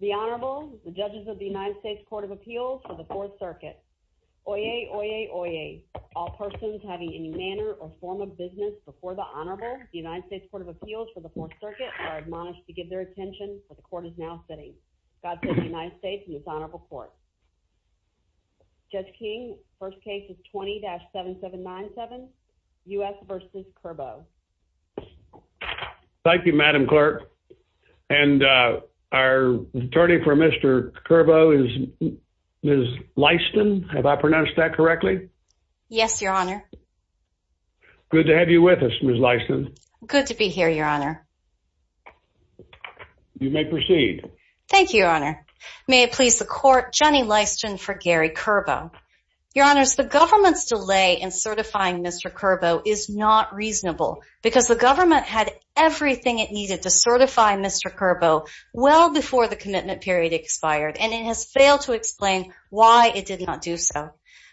The Honorable, the Judges of the United States Court of Appeals for the 4th Circuit. Oyez, oyez, oyez. All persons having any manner or form of business before the Honorable, the United States Court of Appeals for the 4th Circuit, are admonished to give their attention, for the Court is now sitting. God save the United States and this Honorable Court. Judge King, first case is 20-7797, U.S. v. Curbow. Thank you, Madam Clerk. And our attorney for Mr. Curbow is Ms. Lyston. Have I pronounced that correctly? Yes, Your Honor. Good to have you with us, Ms. Lyston. Good to be here, Your Honor. You may proceed. Thank you, Your Honor. May it please the Court, Jenny Lyston for Gary Curbow. Your Honors, the Government's delay in certifying Mr. Curbow is not reasonable, because the Government had everything it needed to certify Mr. Curbow well before the commitment period expired, and it has failed to explain why it did not do so.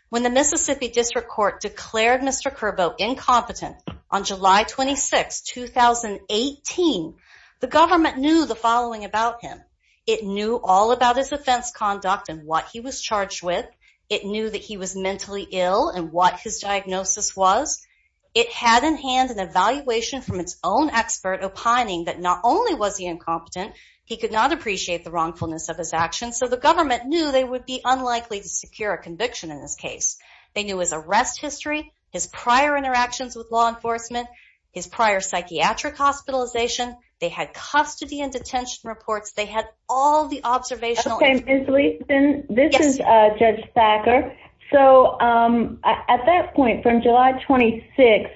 When the Mississippi District Court declared Mr. Curbow incompetent on July 26, 2018, the Government knew the following about him. It knew all about his offense conduct and what he was charged with. It knew that he was mentally ill and what his diagnosis was. It had in hand an evaluation from its own expert opining that not only was he incompetent, he could not appreciate the wrongfulness of his actions, so the Government knew they would be unlikely to secure a conviction in this case. They knew his arrest history, his prior interactions with law enforcement, his prior psychiatric hospitalization. They had custody and detention reports. They had all the observational information. Okay, Ms. Lyston, this is Judge Thacker. So at that point, from July 26,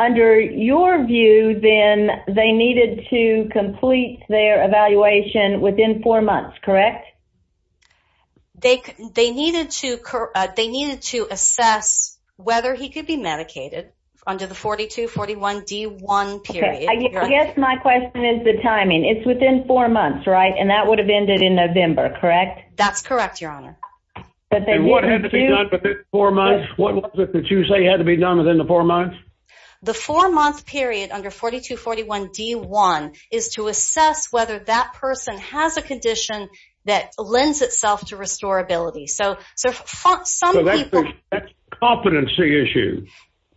under your view, then, they needed to complete their evaluation within four months, correct? They needed to assess whether he could be medicated under the 42-41-D1 period. I guess my question is the timing. It's within four months, right? And that would have ended in November, correct? That's correct, Your Honor. And what had to be done within four months? What was it that you say had to be done within the four months? The four-month period under 42-41-D1 is to assess whether that person has a condition that lends itself to restorability. So some people… So that's a competency issue.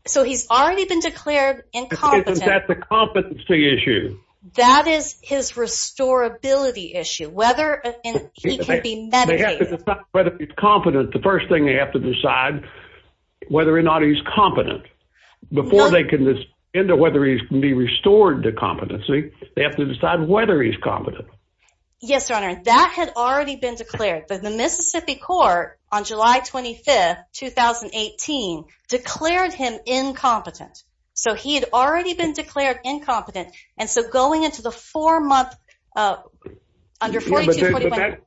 So he's already been declared incompetent. Isn't that the competency issue? That is his restorability issue, whether he can be medicated. They have to decide whether he's competent. The first thing they have to decide is whether or not he's competent. Before they can decide whether he can be restored to competency, they have to decide whether he's competent. Yes, Your Honor. That had already been declared. The Mississippi court, on July 25, 2018, declared him incompetent. So he had already been declared incompetent. And so going into the four-month under 42-41…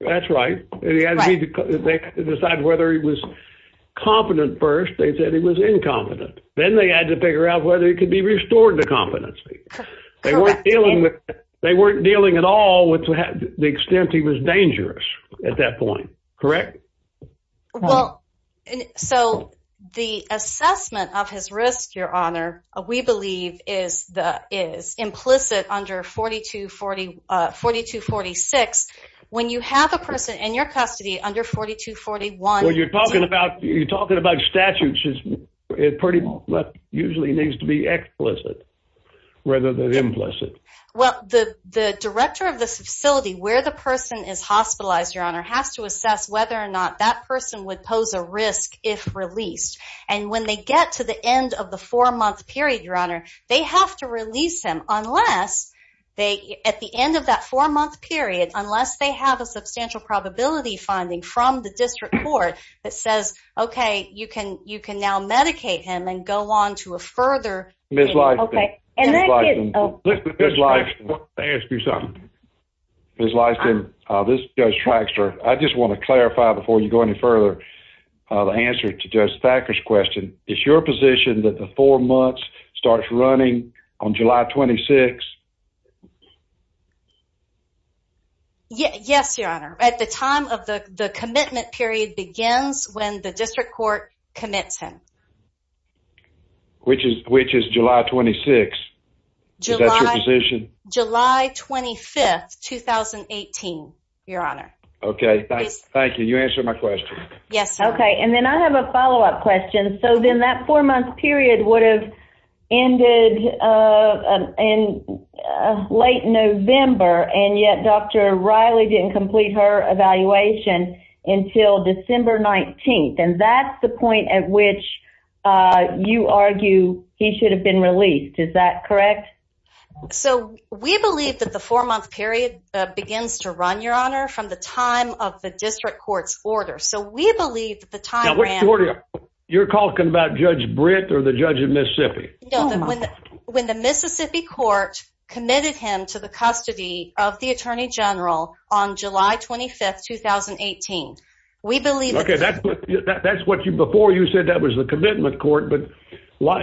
That's right. They had to decide whether he was competent first. They said he was incompetent. Then they had to figure out whether he could be restored to competency. Correct. They weren't dealing at all with the extent he was dangerous at that point, correct? Well, so the assessment of his risk, Your Honor, we believe is implicit under 42-46. When you have a person in your custody under 42-41… Well, you're talking about statutes. It usually needs to be explicit rather than implicit. Well, the director of this facility, where the person is hospitalized, Your Honor, has to assess whether or not that person would pose a risk if released. And when they get to the end of the four-month period, Your Honor, they have to release him unless they… At the end of that four-month period, unless they have a substantial probability finding from the district court that says, okay, you can now medicate him and go on to a further… Ms. Lyston. Okay. Ms. Lyston. Let me ask you something. Ms. Lyston, this is Judge Traxtor. I just want to clarify before you go any further the answer to Judge Thacker's question. Is your position that the four months starts running on July 26? Yes, Your Honor. At the time of the commitment period begins when the district court commits him. Which is July 26? Is that your position? July 25, 2018, Your Honor. Okay. Thank you. You answered my question. Yes. Okay. And then I have a follow-up question. So then that four-month period would have ended in late November, and yet Dr. Riley didn't complete her evaluation until December 19, and that's the point at which you argue he should have been released. Is that correct? So we believe that the four-month period begins to run, Your Honor, from the time of the district court's order. So we believe that the time ran… Now, what's the order? You're talking about Judge Britt or the judge of Mississippi? No, when the Mississippi court committed him to the custody of the attorney general on July 25, 2018. We believe that… Okay. That's what before you said that was the commitment court, but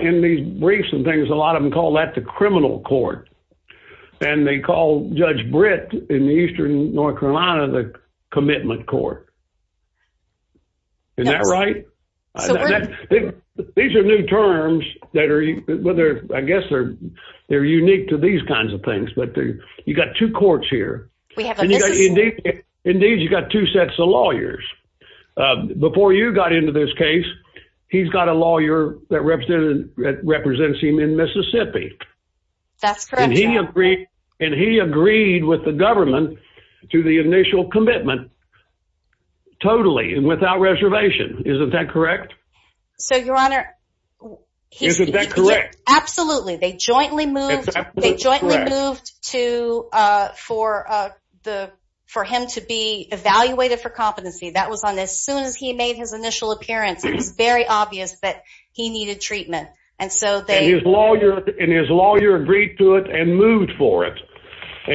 in these briefs and things, a lot of them call that the criminal court, and they call Judge Britt in eastern North Carolina the commitment court. Is that right? These are new terms that are – I guess they're unique to these kinds of things, but you've got two courts here. We have a Mississippi. Indeed, you've got two sets of lawyers. Before you got into this case, he's got a lawyer that represents him in Mississippi. That's correct, Your Honor. And he agreed with the government to the initial commitment totally and without reservation. Isn't that correct? So, Your Honor… Isn't that correct? Absolutely. They jointly moved to – for him to be evaluated for competency. That was on as soon as he made his initial appearance. It was very obvious that he needed treatment, and so they… And his lawyer agreed to it and moved for it.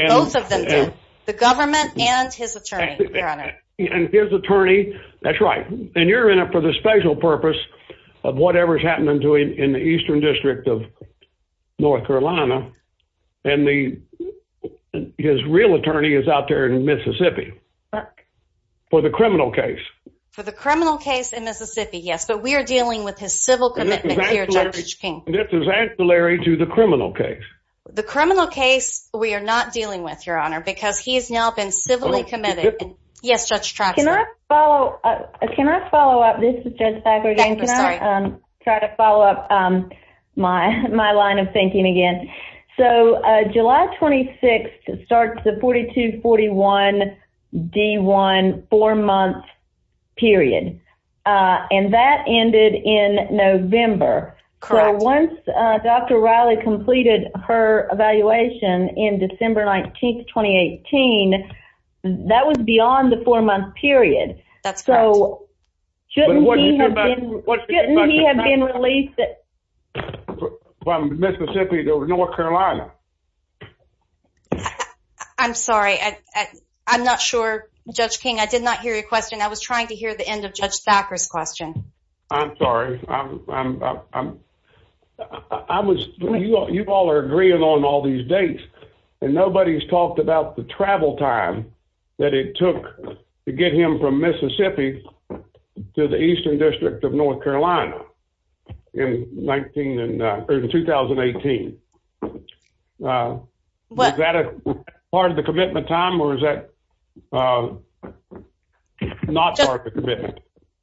Both of them did, the government and his attorney, Your Honor. And his attorney – that's right. And you're in it for the special purpose of whatever is happening in the eastern district of North Carolina, and his real attorney is out there in Mississippi for the criminal case. For the criminal case in Mississippi, yes. But we are dealing with his civil commitment here, Judge King. This is ancillary to the criminal case. The criminal case we are not dealing with, Your Honor, because he has now been civilly committed. Yes, Judge Traxler. Can I follow up? This is Judge Packer again. I'm sorry. Can I try to follow up my line of thinking again? So, July 26th starts the 42-41-D1 four-month period, and that ended in November. Correct. Once Dr. Riley completed her evaluation in December 19th, 2018, that was beyond the four-month period. That's correct. So shouldn't he have been released from Mississippi to North Carolina? I'm sorry. I'm not sure, Judge King. I did not hear your question. I was trying to hear the end of Judge Packer's question. I'm sorry. You all are agreeing on all these dates, and nobody's talked about the travel time that it took to get him from Mississippi to the eastern district of North Carolina in 2018. Was that part of the commitment time, or was that not part of the commitment?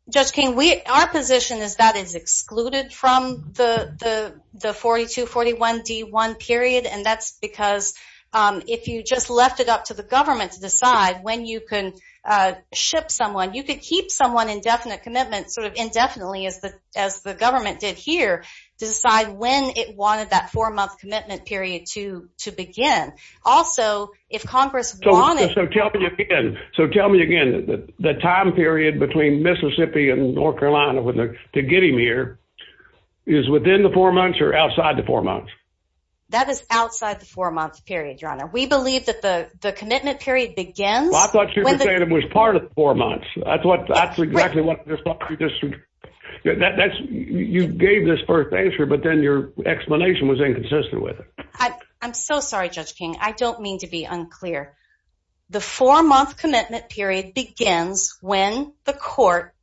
Judge King, our position is that it's excluded from the 42-41-D1 period, and that's because if you just left it up to the government to decide when you can ship someone, you could keep someone in definite commitment sort of indefinitely, as the government did here, to decide when it wanted that four-month commitment period to begin. So tell me again, the time period between Mississippi and North Carolina to get him here is within the four months or outside the four months? That is outside the four-month period, Your Honor. We believe that the commitment period begins when the — Well, I thought you were saying it was part of the four months. That's exactly what — you gave this first answer, but then your explanation was inconsistent with it. I'm so sorry, Judge King. I don't mean to be unclear. The four-month commitment period begins when the court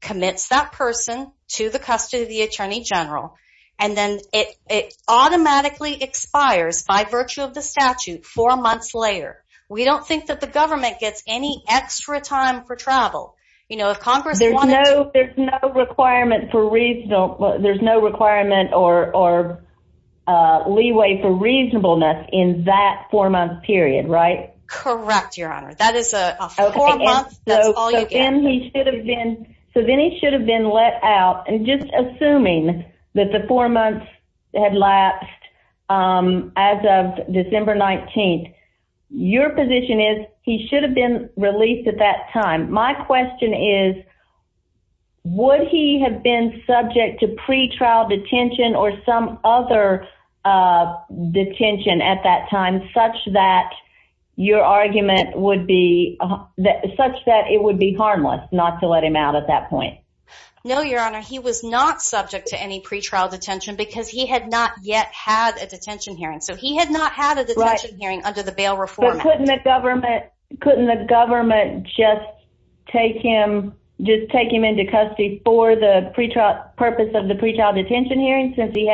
commits that person to the custody of the attorney general, and then it automatically expires by virtue of the statute four months later. We don't think that the government gets any extra time for travel. There's no requirement for — there's no requirement or leeway for reasonableness in that four-month period, right? Correct, Your Honor. That is a four-month. That's all you get. So then he should have been let out. And just assuming that the four months had lapsed as of December 19th, your position is he should have been released at that time. My question is, would he have been subject to pretrial detention or some other detention at that time such that your argument would be — such that it would be harmless not to let him out at that point? No, Your Honor. He was not subject to any pretrial detention because he had not yet had a detention hearing. So he had not had a detention hearing under the bail reform act. Couldn't the government just take him into custody for the purpose of the pretrial detention hearing since they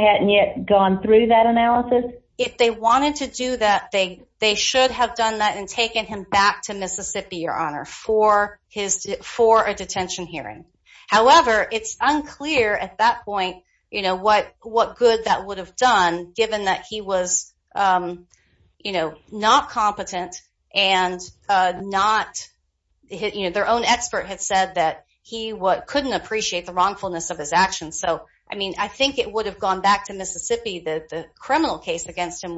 hadn't yet gone through that analysis? If they wanted to do that, they should have done that and taken him back to Mississippi, Your Honor, for a detention hearing. However, it's unclear at that point, you know, what good that would have done given that he was, you know, not competent and not — you know, their own expert had said that he couldn't appreciate the wrongfulness of his actions. So, I mean, I think it would have gone back to Mississippi that the criminal case against him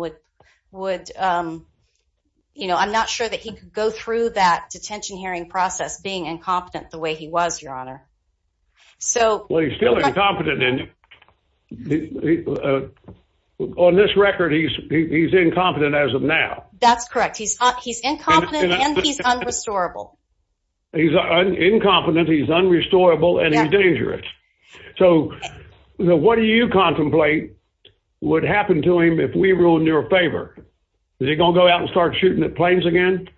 would — you know, I'm not sure that he could go through that detention hearing process being incompetent the way he was, Your Honor. So — Well, he's still incompetent. On this record, he's incompetent as of now. That's correct. He's incompetent and he's unrestorable. He's incompetent, he's unrestorable, and he's dangerous. So what do you contemplate would happen to him if we ruined your favor? Is he going to go out and start shooting at planes again?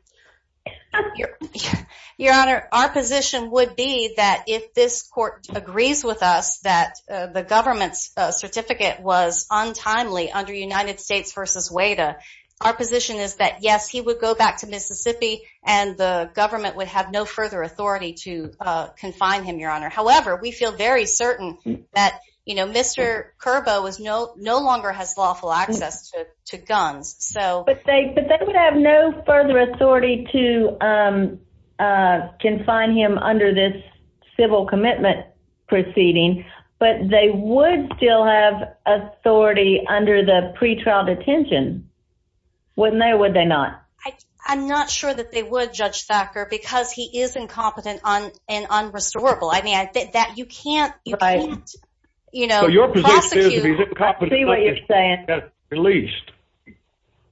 Your Honor, our position would be that if this court agrees with us that the government's certificate was untimely under United States v. WADA, our position is that, yes, he would go back to Mississippi and the government would have no further authority to confine him, Your Honor. However, we feel very certain that, you know, Mr. Curbo no longer has lawful access to guns. But they would have no further authority to confine him under this civil commitment proceeding, but they would still have authority under the pretrial detention, wouldn't they or would they not? I'm not sure that they would, Judge Thacker, because he is incompetent and unrestorable. I mean, you can't, you know, prosecute —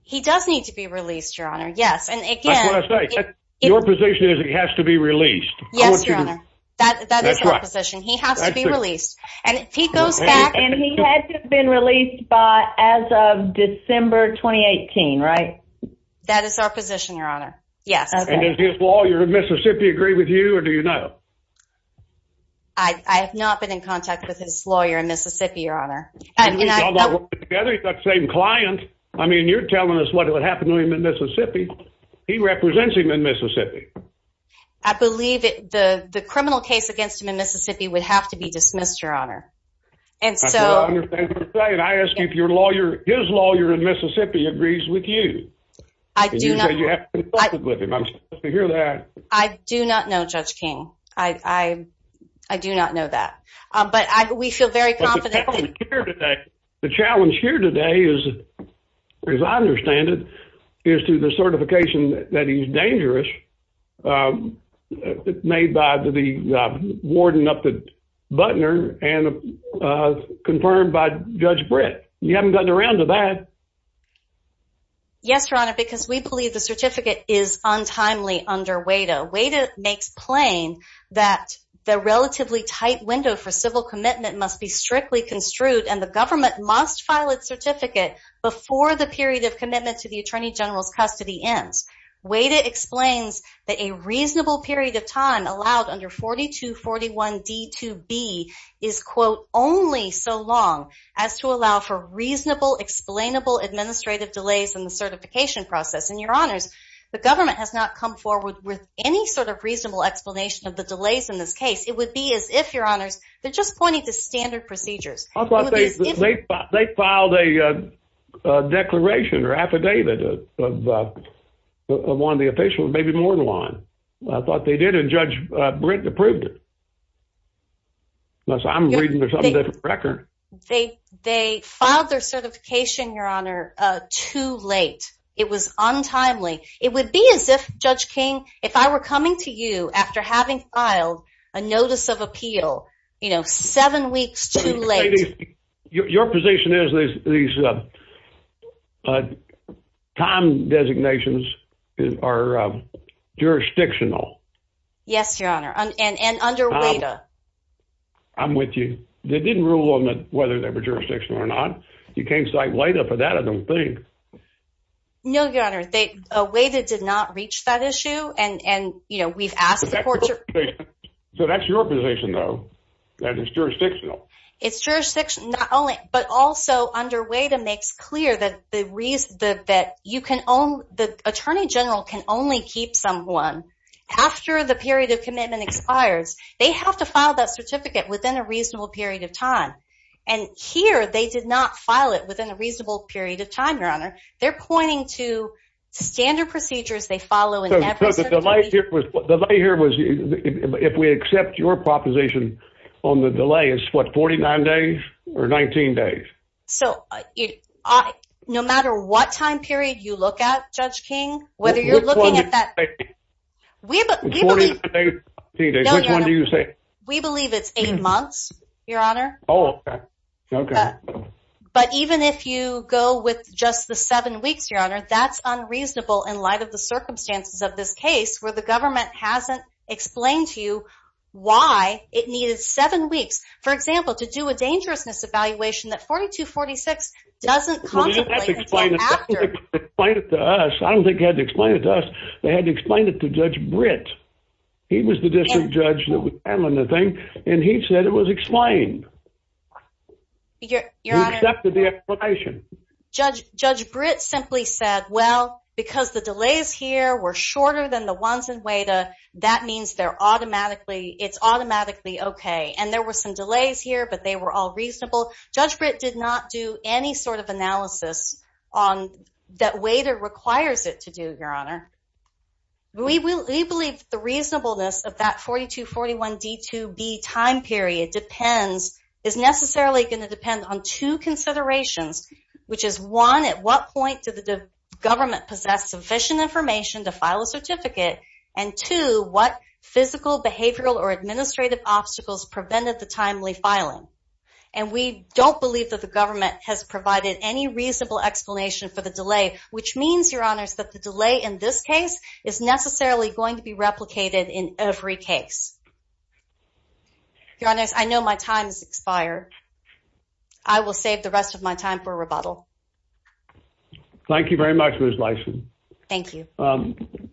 He does need to be released, Your Honor. Yes, and again — That's what I say. Your position is he has to be released. Yes, Your Honor. That is our position. He has to be released. And if he goes back — And he had to have been released by as of December 2018, right? That is our position, Your Honor. Yes. And does his lawyer in Mississippi agree with you or do you know? I have not been in contact with his lawyer in Mississippi, Your Honor. He's got the same client. I mean, you're telling us what would happen to him in Mississippi. He represents him in Mississippi. I believe the criminal case against him in Mississippi would have to be dismissed, Your Honor. That's what I understand what you're saying. I ask you if your lawyer, his lawyer in Mississippi agrees with you. I do not know. And you say you haven't been in contact with him. I'm surprised to hear that. I do not know, Judge King. I do not know that. But we feel very confident. The challenge here today is, as I understand it, is to the certification that he's dangerous made by the warden up at Butner and confirmed by Judge Britt. You haven't gotten around to that. Yes, Your Honor, because we believe the certificate is untimely under WADA. WADA makes plain that the relatively tight window for civil commitment must be strictly construed, and the government must file its certificate before the period of commitment to the Attorney General's custody ends. WADA explains that a reasonable period of time allowed under 4241D2B is, quote, only so long as to allow for reasonable, explainable administrative delays in the certification process. And, Your Honors, the government has not come forward with any sort of reasonable explanation of the delays in this case. It would be as if, Your Honors, they're just pointing to standard procedures. They filed a declaration or affidavit of one of the officials, maybe more than one. I thought they did, and Judge Britt approved it. So I'm reading this on a different record. They filed their certification, Your Honor, too late. It was untimely. It would be as if, Judge King, if I were coming to you after having filed a notice of appeal, you know, seven weeks too late. Your position is these time designations are jurisdictional. Yes, Your Honor, and under WADA. I'm with you. They didn't rule on whether they were jurisdictional or not. You can't cite WADA for that, I don't think. No, Your Honor. WADA did not reach that issue, and, you know, we've asked the courts. So that's your position, though, that it's jurisdictional. It's jurisdictional, but also under WADA makes clear that the Attorney General can only keep someone after the period of commitment expires. They have to file that certificate within a reasonable period of time. And here they did not file it within a reasonable period of time, Your Honor. They're pointing to standard procedures they follow in every certification. The delay here was if we accept your proposition on the delay is, what, 49 days or 19 days? So no matter what time period you look at, Judge King, whether you're looking at that. Which one do you say? We believe it's eight months, Your Honor. Oh, okay. But even if you go with just the seven weeks, Your Honor, that's unreasonable in light of the circumstances of this case where the government hasn't explained to you why it needed seven weeks. For example, to do a dangerousness evaluation that 4246 doesn't contemplate until after. Well, they had to explain it to us. I don't think they had to explain it to us. They had to explain it to Judge Britt. He was the district judge that was handling the thing, and he said it was explained. He accepted the explanation. Judge Britt simply said, well, because the delays here were shorter than the ones in WADA, that means it's automatically okay. And there were some delays here, but they were all reasonable. Judge Britt did not do any sort of analysis that WADA requires it to do, Your Honor. We believe the reasonableness of that 4241D2B time period depends, is necessarily going to depend on two considerations, which is one, at what point did the government possess sufficient information to file a certificate, and two, what physical, behavioral, or administrative obstacles prevented the timely filing. And we don't believe that the government has provided any reasonable explanation for the delay, which means, Your Honors, that the delay in this case is necessarily going to be replicated in every case. Your Honors, I know my time has expired. I will save the rest of my time for rebuttal. Thank you very much, Ms. Lison. Thank you.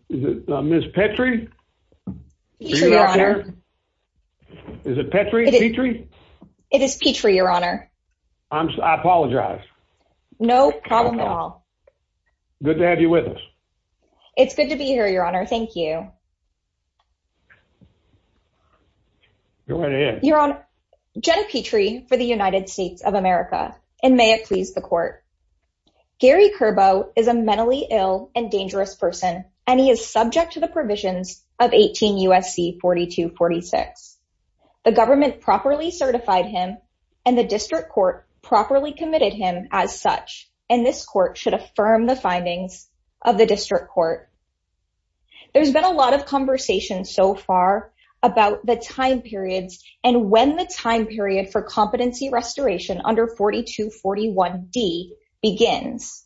Ms. Petrie? Petrie, Your Honor. Is it Petrie? It is Petrie, Your Honor. I apologize. No problem at all. Good to have you with us. It's good to be here, Your Honor. Thank you. Go ahead. Your Honor, Jenna Petrie for the United States of America, and may it please the Court. Gary Kerbo is a mentally ill and dangerous person, and he is subject to the provisions of 18 U.S.C. 4246. The government properly certified him, and the district court properly committed him as such, and this court should affirm the findings of the district court. There's been a lot of conversation so far about the time periods and when the time period for competency restoration under 4241D begins.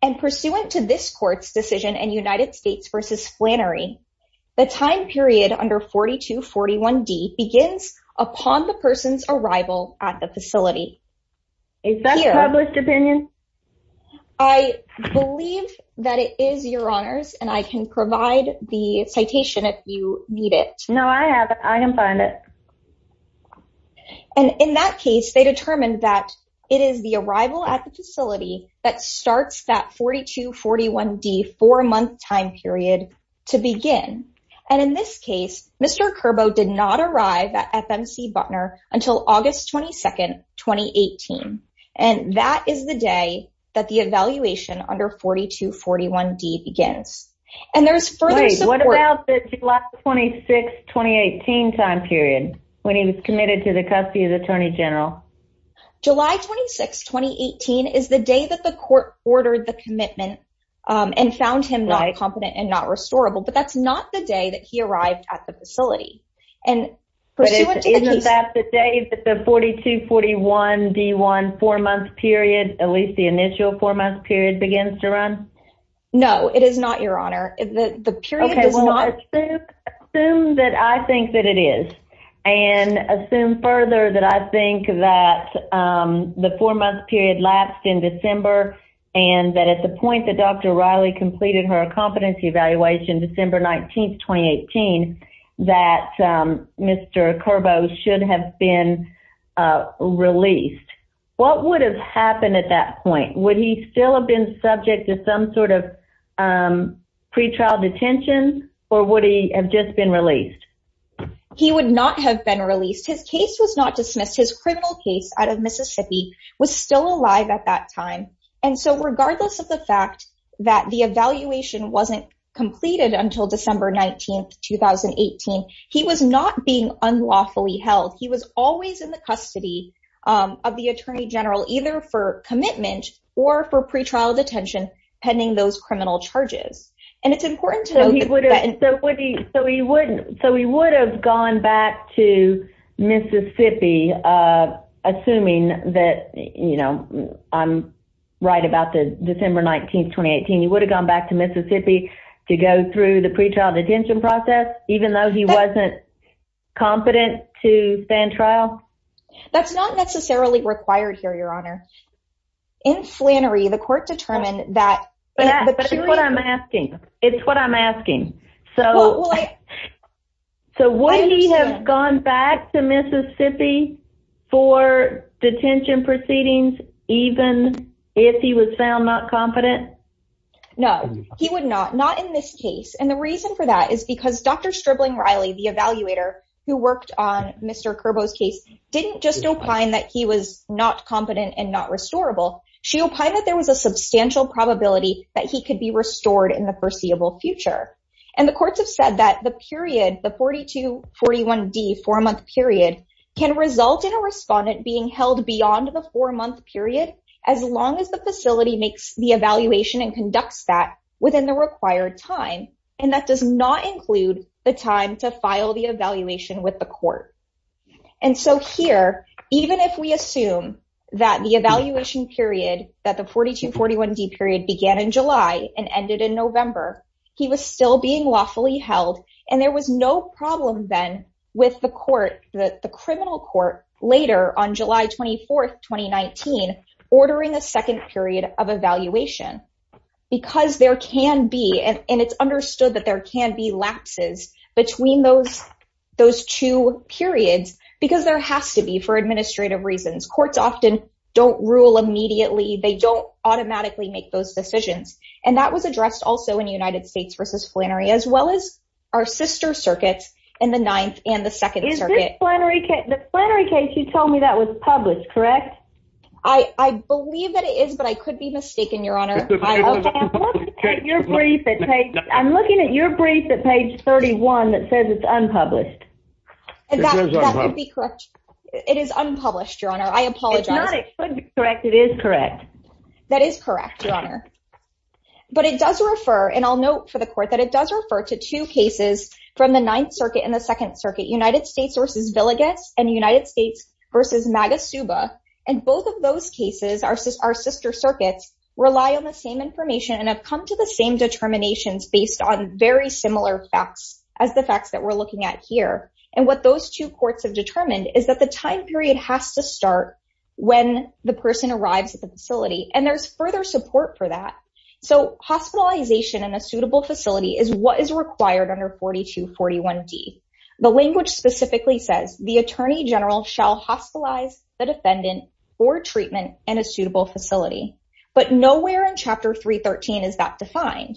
And pursuant to this court's decision in United States v. Flannery, the time period under 4241D begins upon the person's arrival at the facility. Is that a published opinion? I believe that it is, Your Honors, and I can provide the citation if you need it. No, I have it. I can find it. And in that case, they determined that it is the arrival at the facility that starts that 4241D four-month time period to begin. And in this case, Mr. Kerbo did not arrive at FMC Butner until August 22, 2018, and that is the day that the evaluation under 4241D begins. And there's further support. Wait, what about the July 26, 2018 time period when he was committed to the custody of the Attorney General? July 26, 2018 is the day that the court ordered the commitment and found him not competent and not restorable, but that's not the day that he arrived at the facility. But isn't that the day that the 4241D four-month period, at least the initial four-month period, begins to run? No, it is not, Your Honor. Assume that I think that it is, and assume further that I think that the four-month period lapsed in December and that at the point that Dr. Riley completed her competency evaluation, December 19, 2018, that Mr. Kerbo should have been released. What would have happened at that point? Would he still have been subject to some sort of pretrial detention, or would he have just been released? He would not have been released. His case was not dismissed. His criminal case out of Mississippi was still alive at that time. And so regardless of the fact that the evaluation wasn't completed until December 19, 2018, he was not being unlawfully held. He was always in the custody of the Attorney General, either for commitment or for pretrial detention pending those criminal charges. So he would have gone back to Mississippi, assuming that I'm right about December 19, 2018. He would have gone back to Mississippi to go through the pretrial detention process, even though he wasn't competent to stand trial? That's not necessarily required here, Your Honor. In Flannery, the court determined that… But that's what I'm asking. It's what I'm asking. So would he have gone back to Mississippi for detention proceedings, even if he was found not competent? No, he would not. Not in this case. And the reason for that is because Dr. Stripling Riley, the evaluator, who worked on Mr. Kerbo's case, didn't just opine that he was not competent and not restorable. She opined that there was a substantial probability that he could be restored in the foreseeable future. And the courts have said that the period, the 42-41D four-month period, can result in a respondent being held beyond the four-month period as long as the facility makes the evaluation and conducts that within the required time. And that does not include the time to file the evaluation with the court. And so here, even if we assume that the evaluation period, that the 42-41D period began in July and ended in November, he was still being lawfully held. And there was no problem then with the court, the criminal court, later on July 24, 2019, ordering a second period of evaluation because there can be, and it's understood that there can be, between those two periods because there has to be for administrative reasons. Courts often don't rule immediately. They don't automatically make those decisions. And that was addressed also in United States v. Flannery, as well as our sister circuits in the Ninth and the Second Circuit. Is this Flannery case you told me that was published, correct? I believe that it is, but I could be mistaken, Your Honor. I'm looking at your brief at page 31 that says it's unpublished. That would be correct. It is unpublished, Your Honor. I apologize. If not, it could be correct. It is correct. That is correct, Your Honor. But it does refer, and I'll note for the court, that it does refer to two cases from the Ninth Circuit and the Second Circuit, United States v. Villegas and United States v. Magasuba. And both of those cases, our sister circuits, rely on the same information and have come to the same determinations based on very similar facts as the facts that we're looking at here. And what those two courts have determined is that the time period has to start when the person arrives at the facility, and there's further support for that. So hospitalization in a suitable facility is what is required under 4241D. The language specifically says, the attorney general shall hospitalize the defendant for treatment in a suitable facility. But nowhere in Chapter 313 is that defined.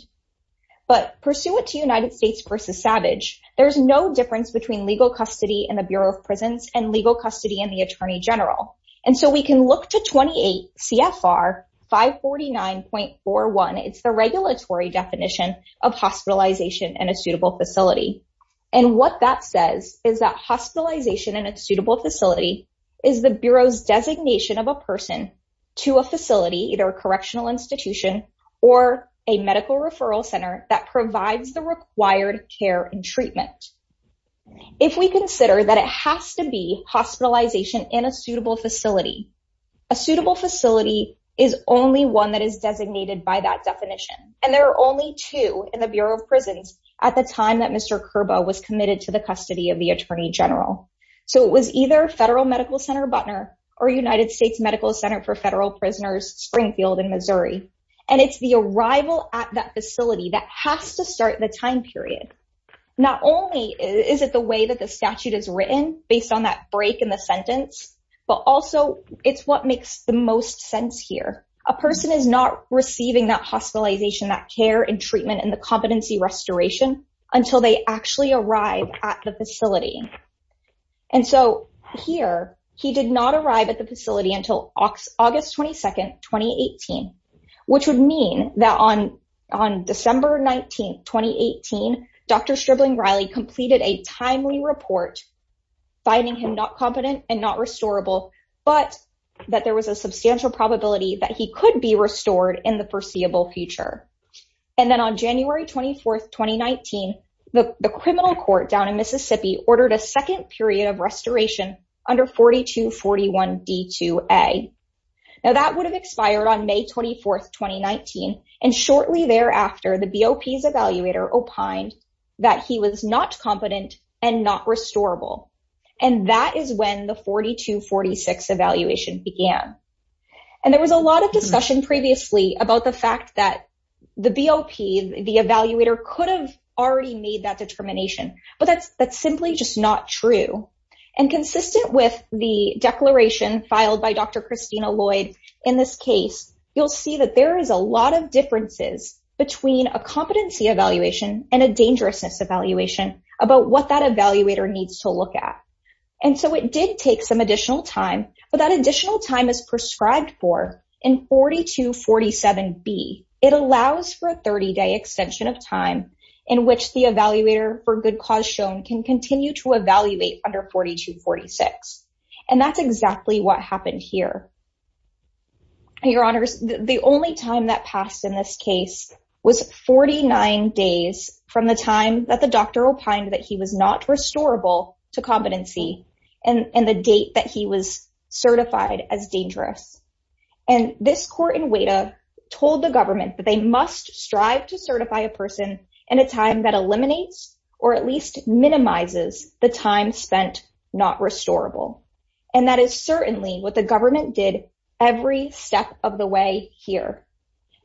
But pursuant to United States v. Savage, there's no difference between legal custody in the Bureau of Prisons and legal custody in the attorney general. And so we can look to 28 CFR 549.41. It's the regulatory definition of hospitalization in a suitable facility. And what that says is that hospitalization in a suitable facility is the Bureau's designation of a person to a facility, either a correctional institution or a medical referral center that provides the required care and treatment. If we consider that it has to be hospitalization in a suitable facility, a suitable facility is only one that is designated by that definition. And there are only two in the Bureau of Prisons at the time that Mr. Kerba was committed to the custody of the attorney general. So it was either Federal Medical Center, Butner, or United States Medical Center for Federal Prisoners, Springfield in Missouri. And it's the arrival at that facility that has to start the time period. Not only is it the way that the statute is written based on that break in the sentence, but also it's what makes the most sense here. A person is not receiving that hospitalization, that care and treatment, and the competency restoration until they actually arrive at the facility. And so here, he did not arrive at the facility until August 22, 2018, which would mean that on December 19, 2018, Dr. Stribling-Riley completed a timely report finding him not competent and not restorable, but that there was a substantial probability that he could be restored in the foreseeable future. And then on January 24, 2019, the criminal court down in Mississippi ordered a second period of restoration under 4241D2A. Now, that would have expired on May 24, 2019. And shortly thereafter, the BOP's evaluator opined that he was not competent and not restorable. And that is when the 4246 evaluation began. And there was a lot of discussion previously about the fact that the BOP, the evaluator, could have already made that determination, but that's simply just not true. And consistent with the declaration filed by Dr. Christina Lloyd in this case, you'll see that there is a lot of differences between a competency evaluation and a dangerousness evaluation about what that evaluator needs to look at. And so it did take some additional time, but that additional time is prescribed for in 4247B. It allows for a 30-day extension of time in which the evaluator for good cause shown can continue to evaluate under 4246. And that's exactly what happened here. Your Honors, the only time that passed in this case was 49 days from the time that the doctor opined that he was not restorable to competency and the date that he was certified as dangerous. And this court in WADA told the government that they must strive to certify a person in a time that eliminates or at least minimizes the time spent not restorable. And that is certainly what the government did every step of the way here.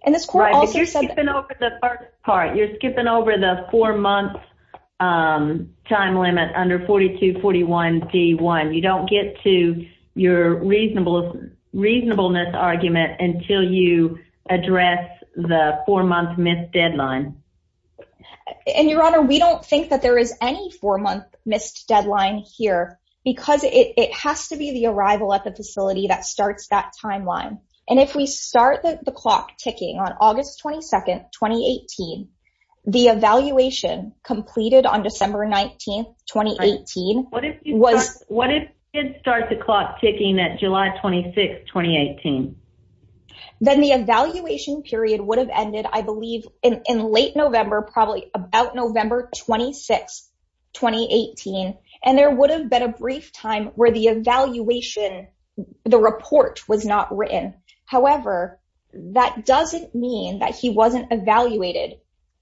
And this court also said... Right, but you're skipping over the first part. You're skipping over the four-month time limit under 4241D1. You don't get to your reasonableness argument until you address the four-month missed deadline. And, Your Honor, we don't think that there is any four-month missed deadline here because it has to be the arrival at the facility that starts that timeline. And if we start the clock ticking on August 22nd, 2018, the evaluation completed on December 19th, 2018 was... What if it starts the clock ticking at July 26th, 2018? Then the evaluation period would have ended, I believe, in late November, probably about November 26th, 2018, and there would have been a brief time where the evaluation, the report was not written. However, that doesn't mean that he wasn't evaluated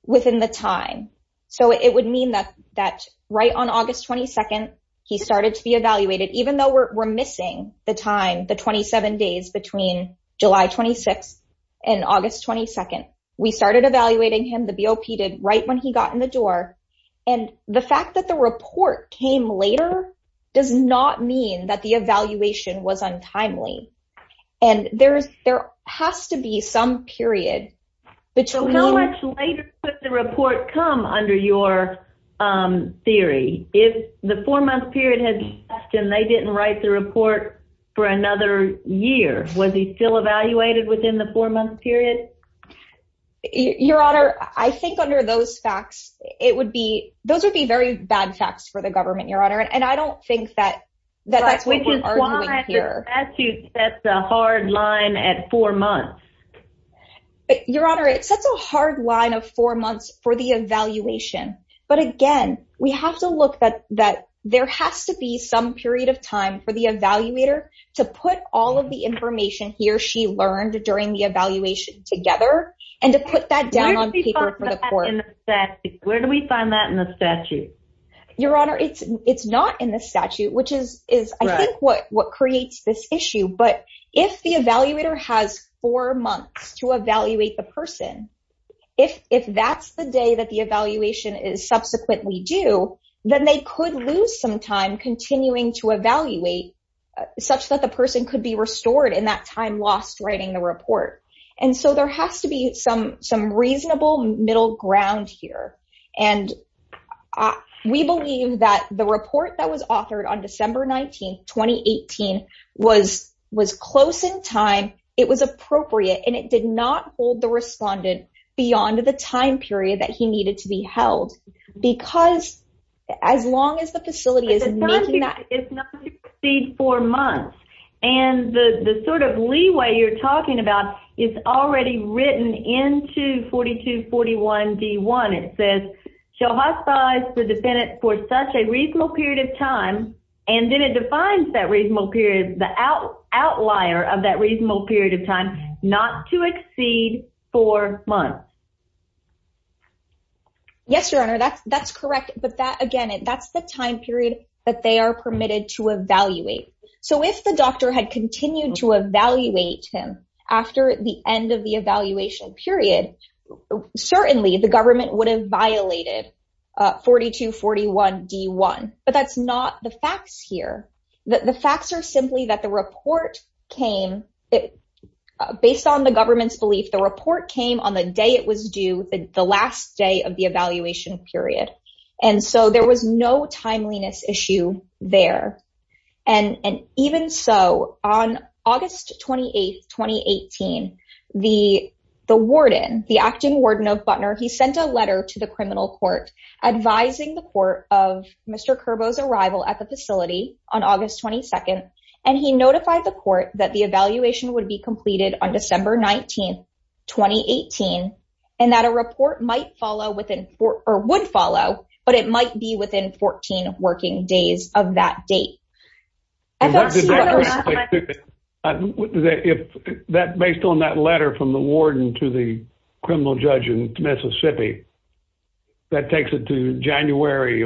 within the time. So it would mean that right on August 22nd, he started to be evaluated, even though we're missing the time, the 27 days between July 26th and August 22nd. We started evaluating him, the BOP did, right when he got in the door. And the fact that the report came later does not mean that the evaluation was untimely. And there has to be some period... How much later could the report come under your theory? If the four-month period had passed and they didn't write the report for another year, was he still evaluated within the four-month period? Your Honor, I think under those facts, it would be... Those would be very bad facts for the government, Your Honor. And I don't think that that's what we're arguing here. The statute sets a hard line at four months. Your Honor, it sets a hard line of four months for the evaluation. But again, we have to look that there has to be some period of time for the evaluator to put all of the information he or she learned during the evaluation together and to put that down on paper for the court. Where do we find that in the statute? Your Honor, it's not in the statute, which is, I think, what creates this issue. But if the evaluator has four months to evaluate the person, if that's the day that the evaluation is subsequently due, then they could lose some time continuing to evaluate such that the person could be restored in that time lost writing the report. And so there has to be some reasonable middle ground here. And we believe that the report that was authored on December 19, 2018 was close in time, it was appropriate, and it did not hold the respondent beyond the time period that he needed to be held. Because as long as the facility is making that... But the time period is not to exceed four months. And the sort of leeway you're talking about is already written into 4241D1. It says, shall hospice the defendant for such a reasonable period of time, and then it defines that reasonable period, the outlier of that reasonable period of time, not to exceed four months. Yes, Your Honor, that's correct. But that, again, that's the time period that they are permitted to evaluate. So if the doctor had continued to evaluate him after the end of the evaluation period, certainly the government would have violated 4241D1. But that's not the facts here. The facts are simply that the report came... Based on the government's belief, the report came on the day it was due, the last day of the evaluation period. And so there was no timeliness issue there. And even so, on August 28, 2018, the warden, the acting warden of Butner, he sent a letter to the criminal court advising the court of Mr. Curbo's arrival at the facility on August 22, and he notified the court that the evaluation would be completed on December 19, 2018, and that a report might follow within... Or would follow, but it might be within 14 working days of that date. FLC... Based on that letter from the warden to the criminal judge in Mississippi, that takes it to January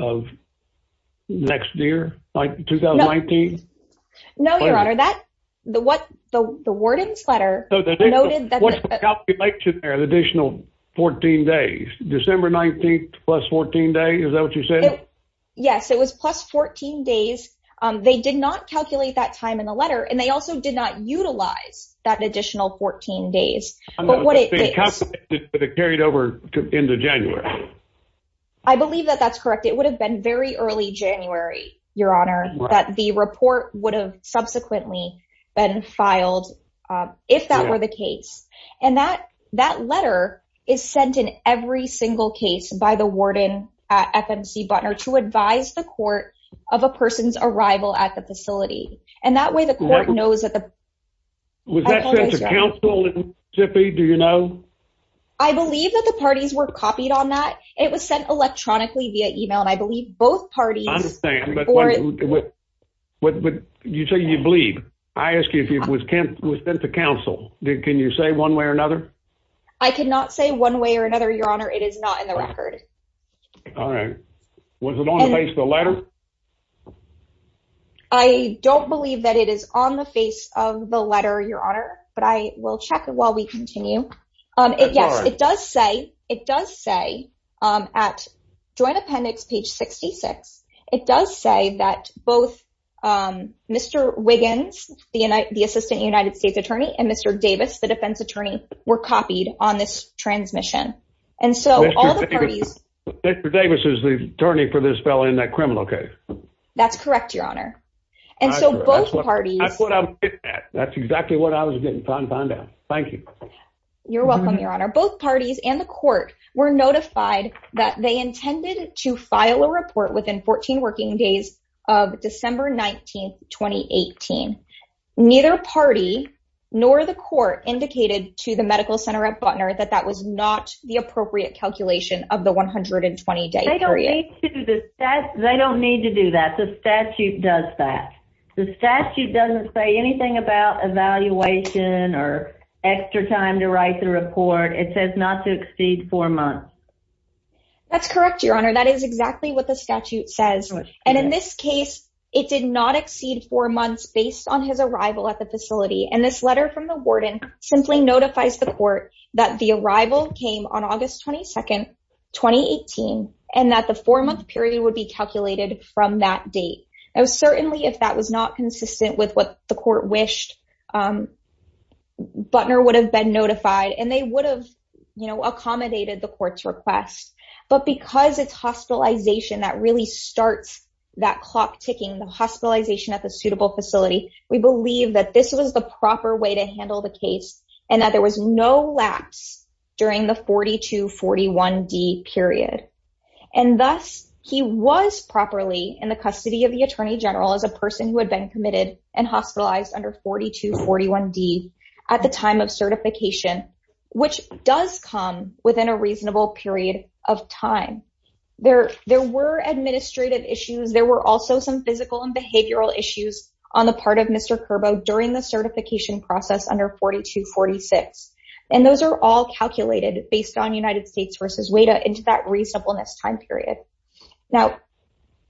of next year, 2019? No, Your Honor. The warden's letter noted that... What's the calculation there, the additional 14 days? December 19th plus 14 days, is that what you said? Yes, it was plus 14 days. They did not calculate that time in the letter, and they also did not utilize that additional 14 days. But what it... But it carried over into January. I believe that that's correct. It would have been very early January, Your Honor, that the report would have subsequently been filed if that were the case. And that letter is sent in every single case by the warden at FMC Butner to advise the court of a person's arrival at the facility. And that way, the court knows that the... Was that sent to counsel in Mississippi, do you know? I believe that the parties were copied on that. It was sent electronically via email, and I believe both parties... I understand, but you say you believe. I ask you if it was sent to counsel. Can you say one way or another? I cannot say one way or another, Your Honor. It is not in the record. All right. Was it on the face of the letter? I don't believe that it is on the face of the letter, Your Honor, but I will check it while we continue. Yes, it does say at Joint Appendix, page 66, it does say that both Mr. Wiggins, the assistant United States attorney, and Mr. Davis, the defense attorney, were copied on this transmission. And so all the parties... Mr. Davis is the attorney for this fellow in that criminal case. That's correct, Your Honor. And so both parties... That's what I'm getting at. That's exactly what I was getting, pound, pound, pound. Thank you. You're welcome, Your Honor. Both parties and the court were notified that they intended to file a report within 14 working days of December 19, 2018. Neither party nor the court indicated to the medical center at Butner that that was not the appropriate calculation of the 120-day period. They don't need to do that. The statute does that. The statute doesn't say anything about evaluation or extra time to write the report. It says not to exceed four months. That's correct, Your Honor. That is exactly what the statute says. And in this case, it did not exceed four months based on his arrival at the facility. And this letter from the warden simply notifies the court that the arrival came on August 22, 2018, and that the four-month period would be calculated from that date. Now, certainly, if that was not consistent with what the court wished, Butner would have been notified, and they would have, you know, accommodated the court's request. But because it's hospitalization that really starts that clock ticking, the hospitalization at the suitable facility, we believe that this was the proper way to handle the case, and that there was no lapse during the 42-41D period. And thus, he was properly in the custody of the attorney general as a person who had been committed and hospitalized under 42-41D at the time of certification, which does come within a reasonable period of time. There were administrative issues. There were also some physical and behavioral issues on the part of Mr. Curbo during the certification process under 42-46. And those are all calculated based on United States v. WADA into that reasonableness time period. Now,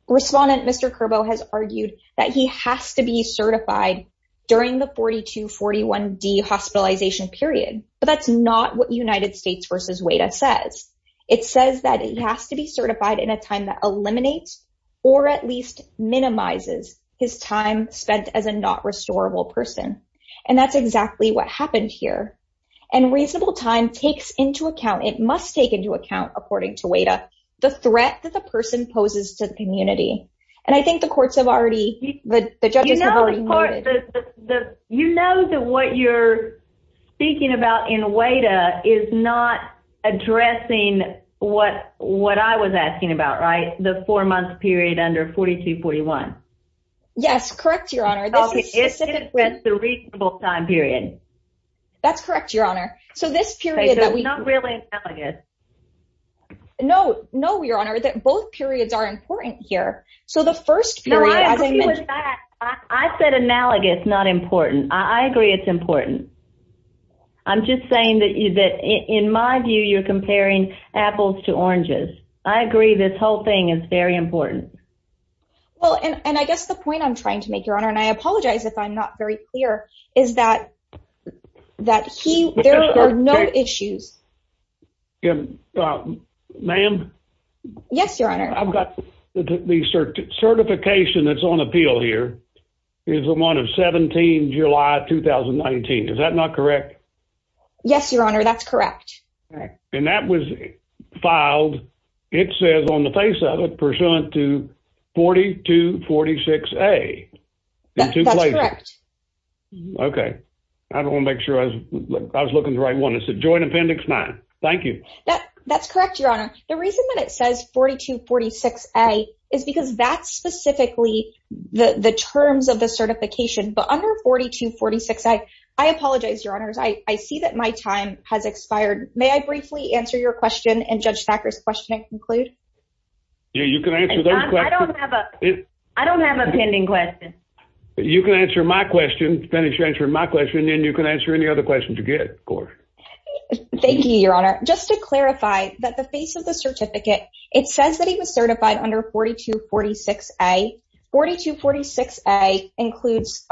Respondent Mr. Curbo has argued that he has to be certified during the 42-41D hospitalization period, but that's not what United States v. WADA says. It says that he has to be certified in a time that eliminates or at least minimizes his time spent as a not-restorable person. And that's exactly what happened here. And reasonable time takes into account, it must take into account, according to WADA, the threat that the person poses to the community. And I think the courts have already, the judges have already noted. You know that what you're speaking about in WADA is not addressing what I was asking about, right? The four-month period under 42-41. Yes, correct, Your Honor. This is specific with the reasonable time period. That's correct, Your Honor. So this period that we... So it's not really analogous. No, no, Your Honor. Both periods are important here. So the first period... No, I agree with that. I said analogous, not important. I agree it's important. I'm just saying that in my view, you're comparing apples to oranges. I agree this whole thing is very important. Well, and I guess the point I'm trying to make, Your Honor, and I apologize if I'm not very clear, is that there are no issues. Ma'am? Yes, Your Honor. I've got the certification that's on appeal here is the one of 17 July 2019. Is that not correct? Yes, Your Honor, that's correct. And that was filed. It says on the face of it pursuant to 4246A. That's correct. Okay. I don't want to make sure I was looking at the right one. It said Joint Appendix 9. Thank you. That's correct, Your Honor. The reason that it says 4246A is because that's specifically the terms of the certification. But under 4246A, I apologize, Your Honors. I see that my time has expired. May I briefly answer your question and Judge Thacker's question and conclude? Yeah, you can answer those questions. I don't have a pending question. You can answer my question, and then you can answer any other questions you get, of course. Thank you, Your Honor. Just to clarify, that the face of the certificate, it says that he was certified under 4246A. 4246A includes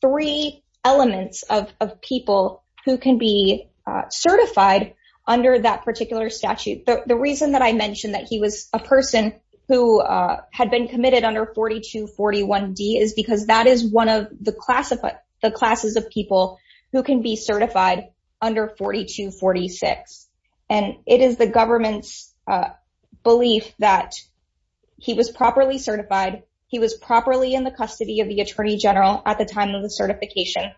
three elements of people who can be certified under that particular statute. The reason that I mentioned that he was a person who had been committed under 4241D is because that is one of the classes of people who can be certified under 4246. And it is the government's belief that he was properly certified, he was properly in the custody of the Attorney General at the time of the certification,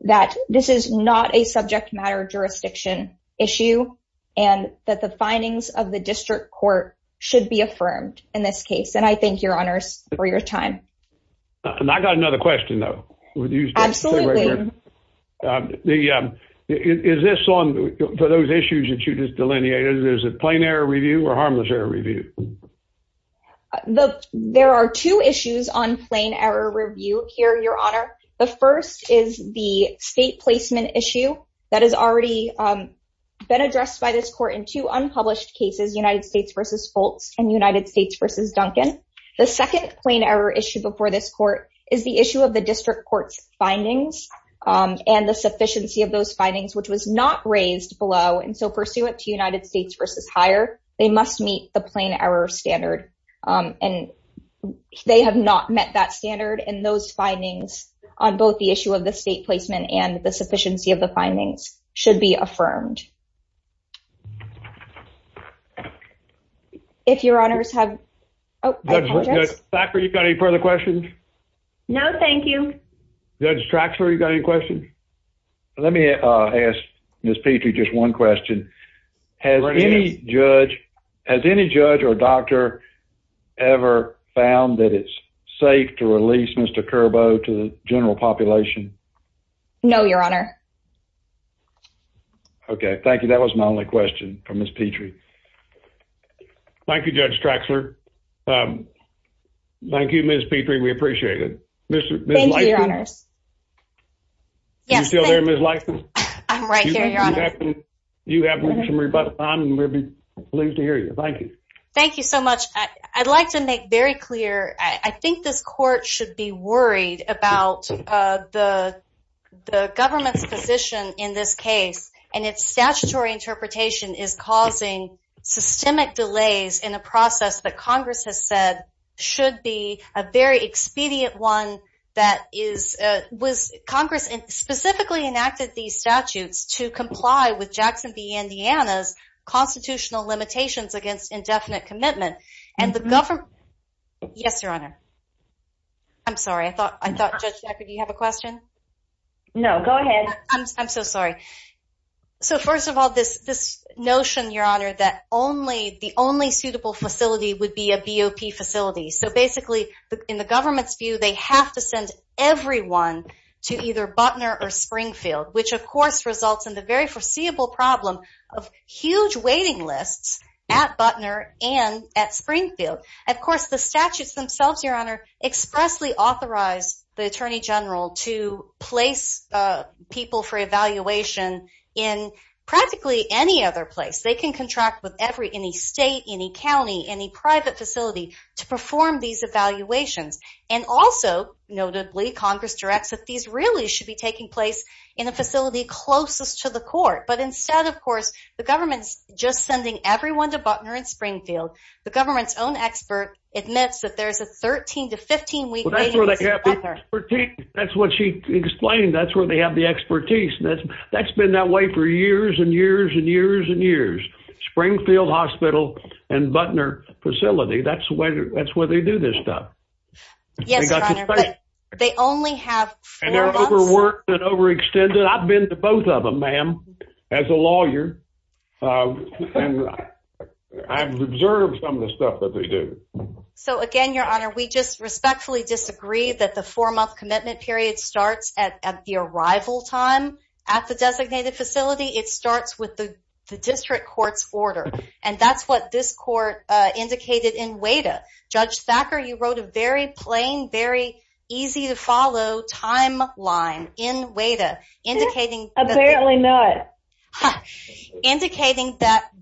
that this is not a subject matter jurisdiction issue, and that the findings of the district court should be affirmed in this case. And I thank Your Honors for your time. And I got another question, though. Absolutely. Is this on, for those issues that you just delineated, is it Plain Error Review or Harmless Error Review? There are two issues on Plain Error Review here, Your Honor. The first is the state placement issue that has already been addressed by this court in two unpublished cases, United States v. Foltz and United States v. Duncan. The second Plain Error issue before this court is the issue of the district court's findings and the sufficiency of those findings, which was not raised below. And so pursuant to United States v. Higher, they must meet the Plain Error standard. And they have not met that standard. And those findings on both the issue of the state placement and the sufficiency of the findings should be affirmed. If Your Honors have... Judge Thacker, you got any further questions? No, thank you. Judge Traxler, you got any questions? Let me ask Ms. Petrie just one question. Has any judge or doctor ever found that it's safe to release Mr. Curbo to the general population? No, Your Honor. Okay, thank you. That was my only question for Ms. Petrie. Thank you, Judge Traxler. Thank you, Ms. Petrie. We appreciate it. Thank you, Your Honors. Are you still there, Ms. Lison? I'm right here, Your Honor. You have some rebuttal time, and we'll be pleased to hear you. Thank you. Thank you so much. I'd like to make very clear, I think this court should be worried about the government's position in this case and its statutory interpretation is causing systemic delays in a process that Congress has said should be a very expedient one. Congress specifically enacted these statutes to comply with Jackson v. Indiana's constitutional limitations against indefinite commitment. Yes, Your Honor. I'm sorry. I thought Judge Decker, do you have a question? No, go ahead. I'm so sorry. First of all, this notion, Your Honor, that the only suitable facility would be a BOP facility. Basically, in the government's view, they have to send everyone to either Butner or Springfield, which of course results in the very foreseeable problem of huge waiting lists at Butner and at Springfield. Of course, the statutes themselves, Your Honor, expressly authorize the Attorney General to place people for evaluation in practically any other place. They can contract with any state, any county, any private facility to perform these evaluations. And also, notably, Congress directs that these really should be taking place in a facility closest to the court. But instead, of course, the government's just sending everyone to Butner and Springfield. The government's own expert admits that there's a 13 to 15-week waiting list at Butner. That's what she explained. That's where they have the expertise. That's been that way for years and years and years and years, Springfield Hospital and Butner facility. Yes, Your Honor, but they only have four months. They're overworked and overextended. I've been to both of them, ma'am, as a lawyer. I've observed some of the stuff that they do. So again, Your Honor, we just respectfully disagree that the four-month commitment period starts at the arrival time at the designated facility. It starts with the district court's order. And that's what this court indicated in WADA. Judge Thacker, you wrote a very plain, very easy-to-follow timeline in WADA indicating that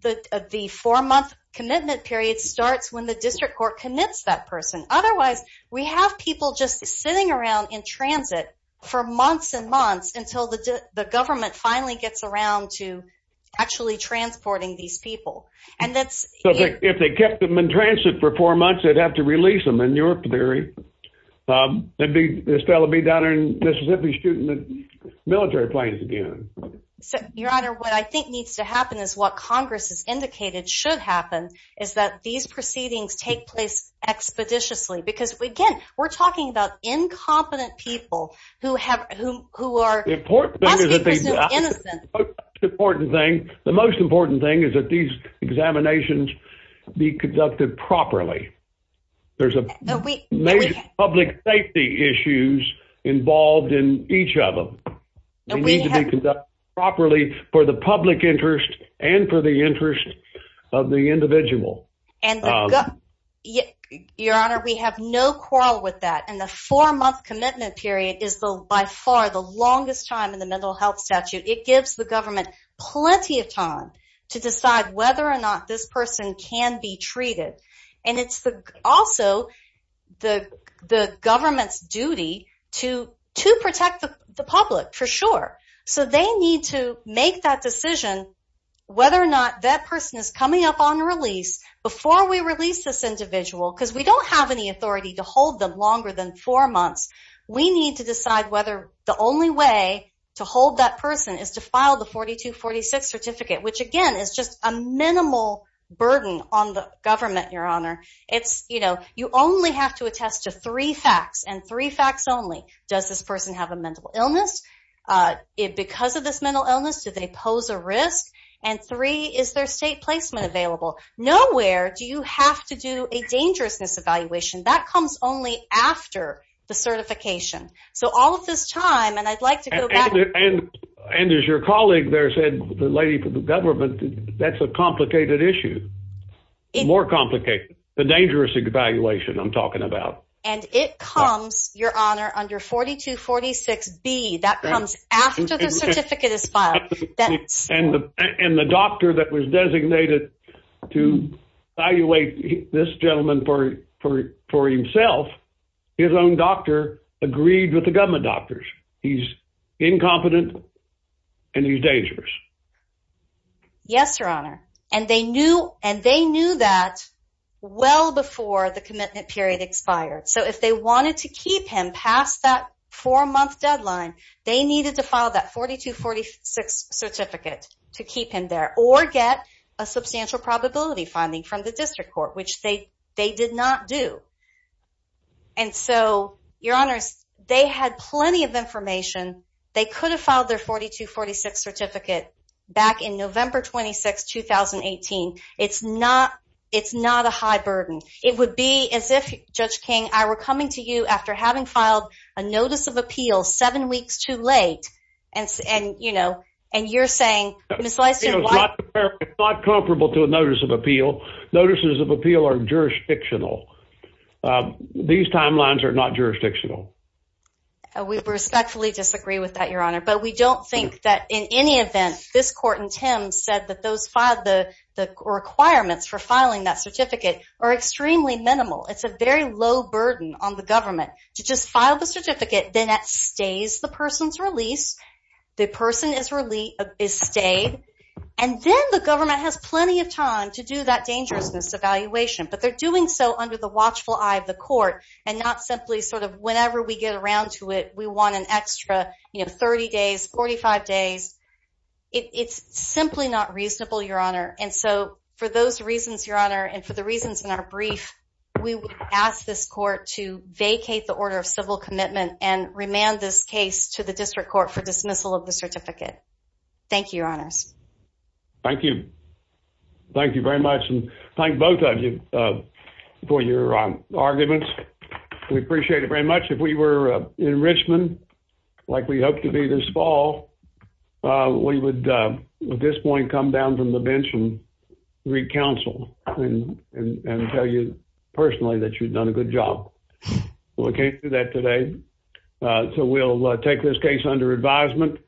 the four-month commitment period starts when the district court commits that person. Otherwise, we have people just sitting around in transit for months and months until the government finally gets around to actually transporting these people. So if they kept them in transit for four months, they'd have to release them in your theory. This fellow would be down in Mississippi shooting military planes again. Your Honor, what I think needs to happen is what Congress has indicated should happen is that these proceedings take place expeditiously. Because, again, we're talking about incompetent people who must be presumed innocent. The most important thing is that these examinations be conducted properly. There's major public safety issues involved in each of them. They need to be conducted properly for the public interest and for the interest of the individual. Your Honor, we have no quarrel with that. And the four-month commitment period is by far the longest time in the mental health statute. It gives the government plenty of time to decide whether or not this person can be treated. And it's also the government's duty to protect the public for sure. So they need to make that decision whether or not that person is coming up on release before we release this individual. Because we don't have any authority to hold them longer than four months. We need to decide whether the only way to hold that person is to file the 4246 certificate, which, again, is just a minimal burden on the government, Your Honor. You only have to attest to three facts, and three facts only. Does this person have a mental illness? Because of this mental illness, do they pose a risk? And three, is there state placement available? Nowhere do you have to do a dangerousness evaluation. That comes only after the certification. So all of this time, and I'd like to go back. And as your colleague there said, the lady from the government, that's a complicated issue, more complicated, the dangerous evaluation I'm talking about. And it comes, Your Honor, under 4246B. That comes after the certificate is filed. And the doctor that was designated to evaluate this gentleman for himself, his own doctor agreed with the government doctors. He's incompetent, and he's dangerous. Yes, Your Honor, and they knew that well before the commitment period expired. So if they wanted to keep him past that four-month deadline, they needed to file that 4246 certificate to keep him there, or get a substantial probability finding from the district court, which they did not do. And so, Your Honors, they had plenty of information. They could have filed their 4246 certificate back in November 26, 2018. It's not a high burden. It would be as if, Judge King, I were coming to you after having filed a notice of appeal seven weeks too late, and you're saying, it's not comparable to a notice of appeal. Notices of appeal are jurisdictional. These timelines are not jurisdictional. We respectfully disagree with that, Your Honor. But we don't think that in any event this court in Thames said that those requirements for filing that certificate are extremely minimal. It's a very low burden on the government to just file the certificate then it stays the person's release, the person is stayed, and then the government has plenty of time to do that dangerousness evaluation. But they're doing so under the watchful eye of the court, and not simply sort of whenever we get around to it, we want an extra 30 days, 45 days. It's simply not reasonable, Your Honor. And so for those reasons, Your Honor, and for the reasons in our brief, we ask this court to vacate the order of civil commitment and remand this case to the district court for dismissal of the certificate. Thank you, Your Honors. Thank you. Thank you very much, and thank both of you for your arguments. We appreciate it very much. If we were in Richmond, like we hope to be this fall, we would at this point come down from the bench and recounsel and tell you personally that you've done a good job. Well, we can't do that today, so we'll take this case under advisement.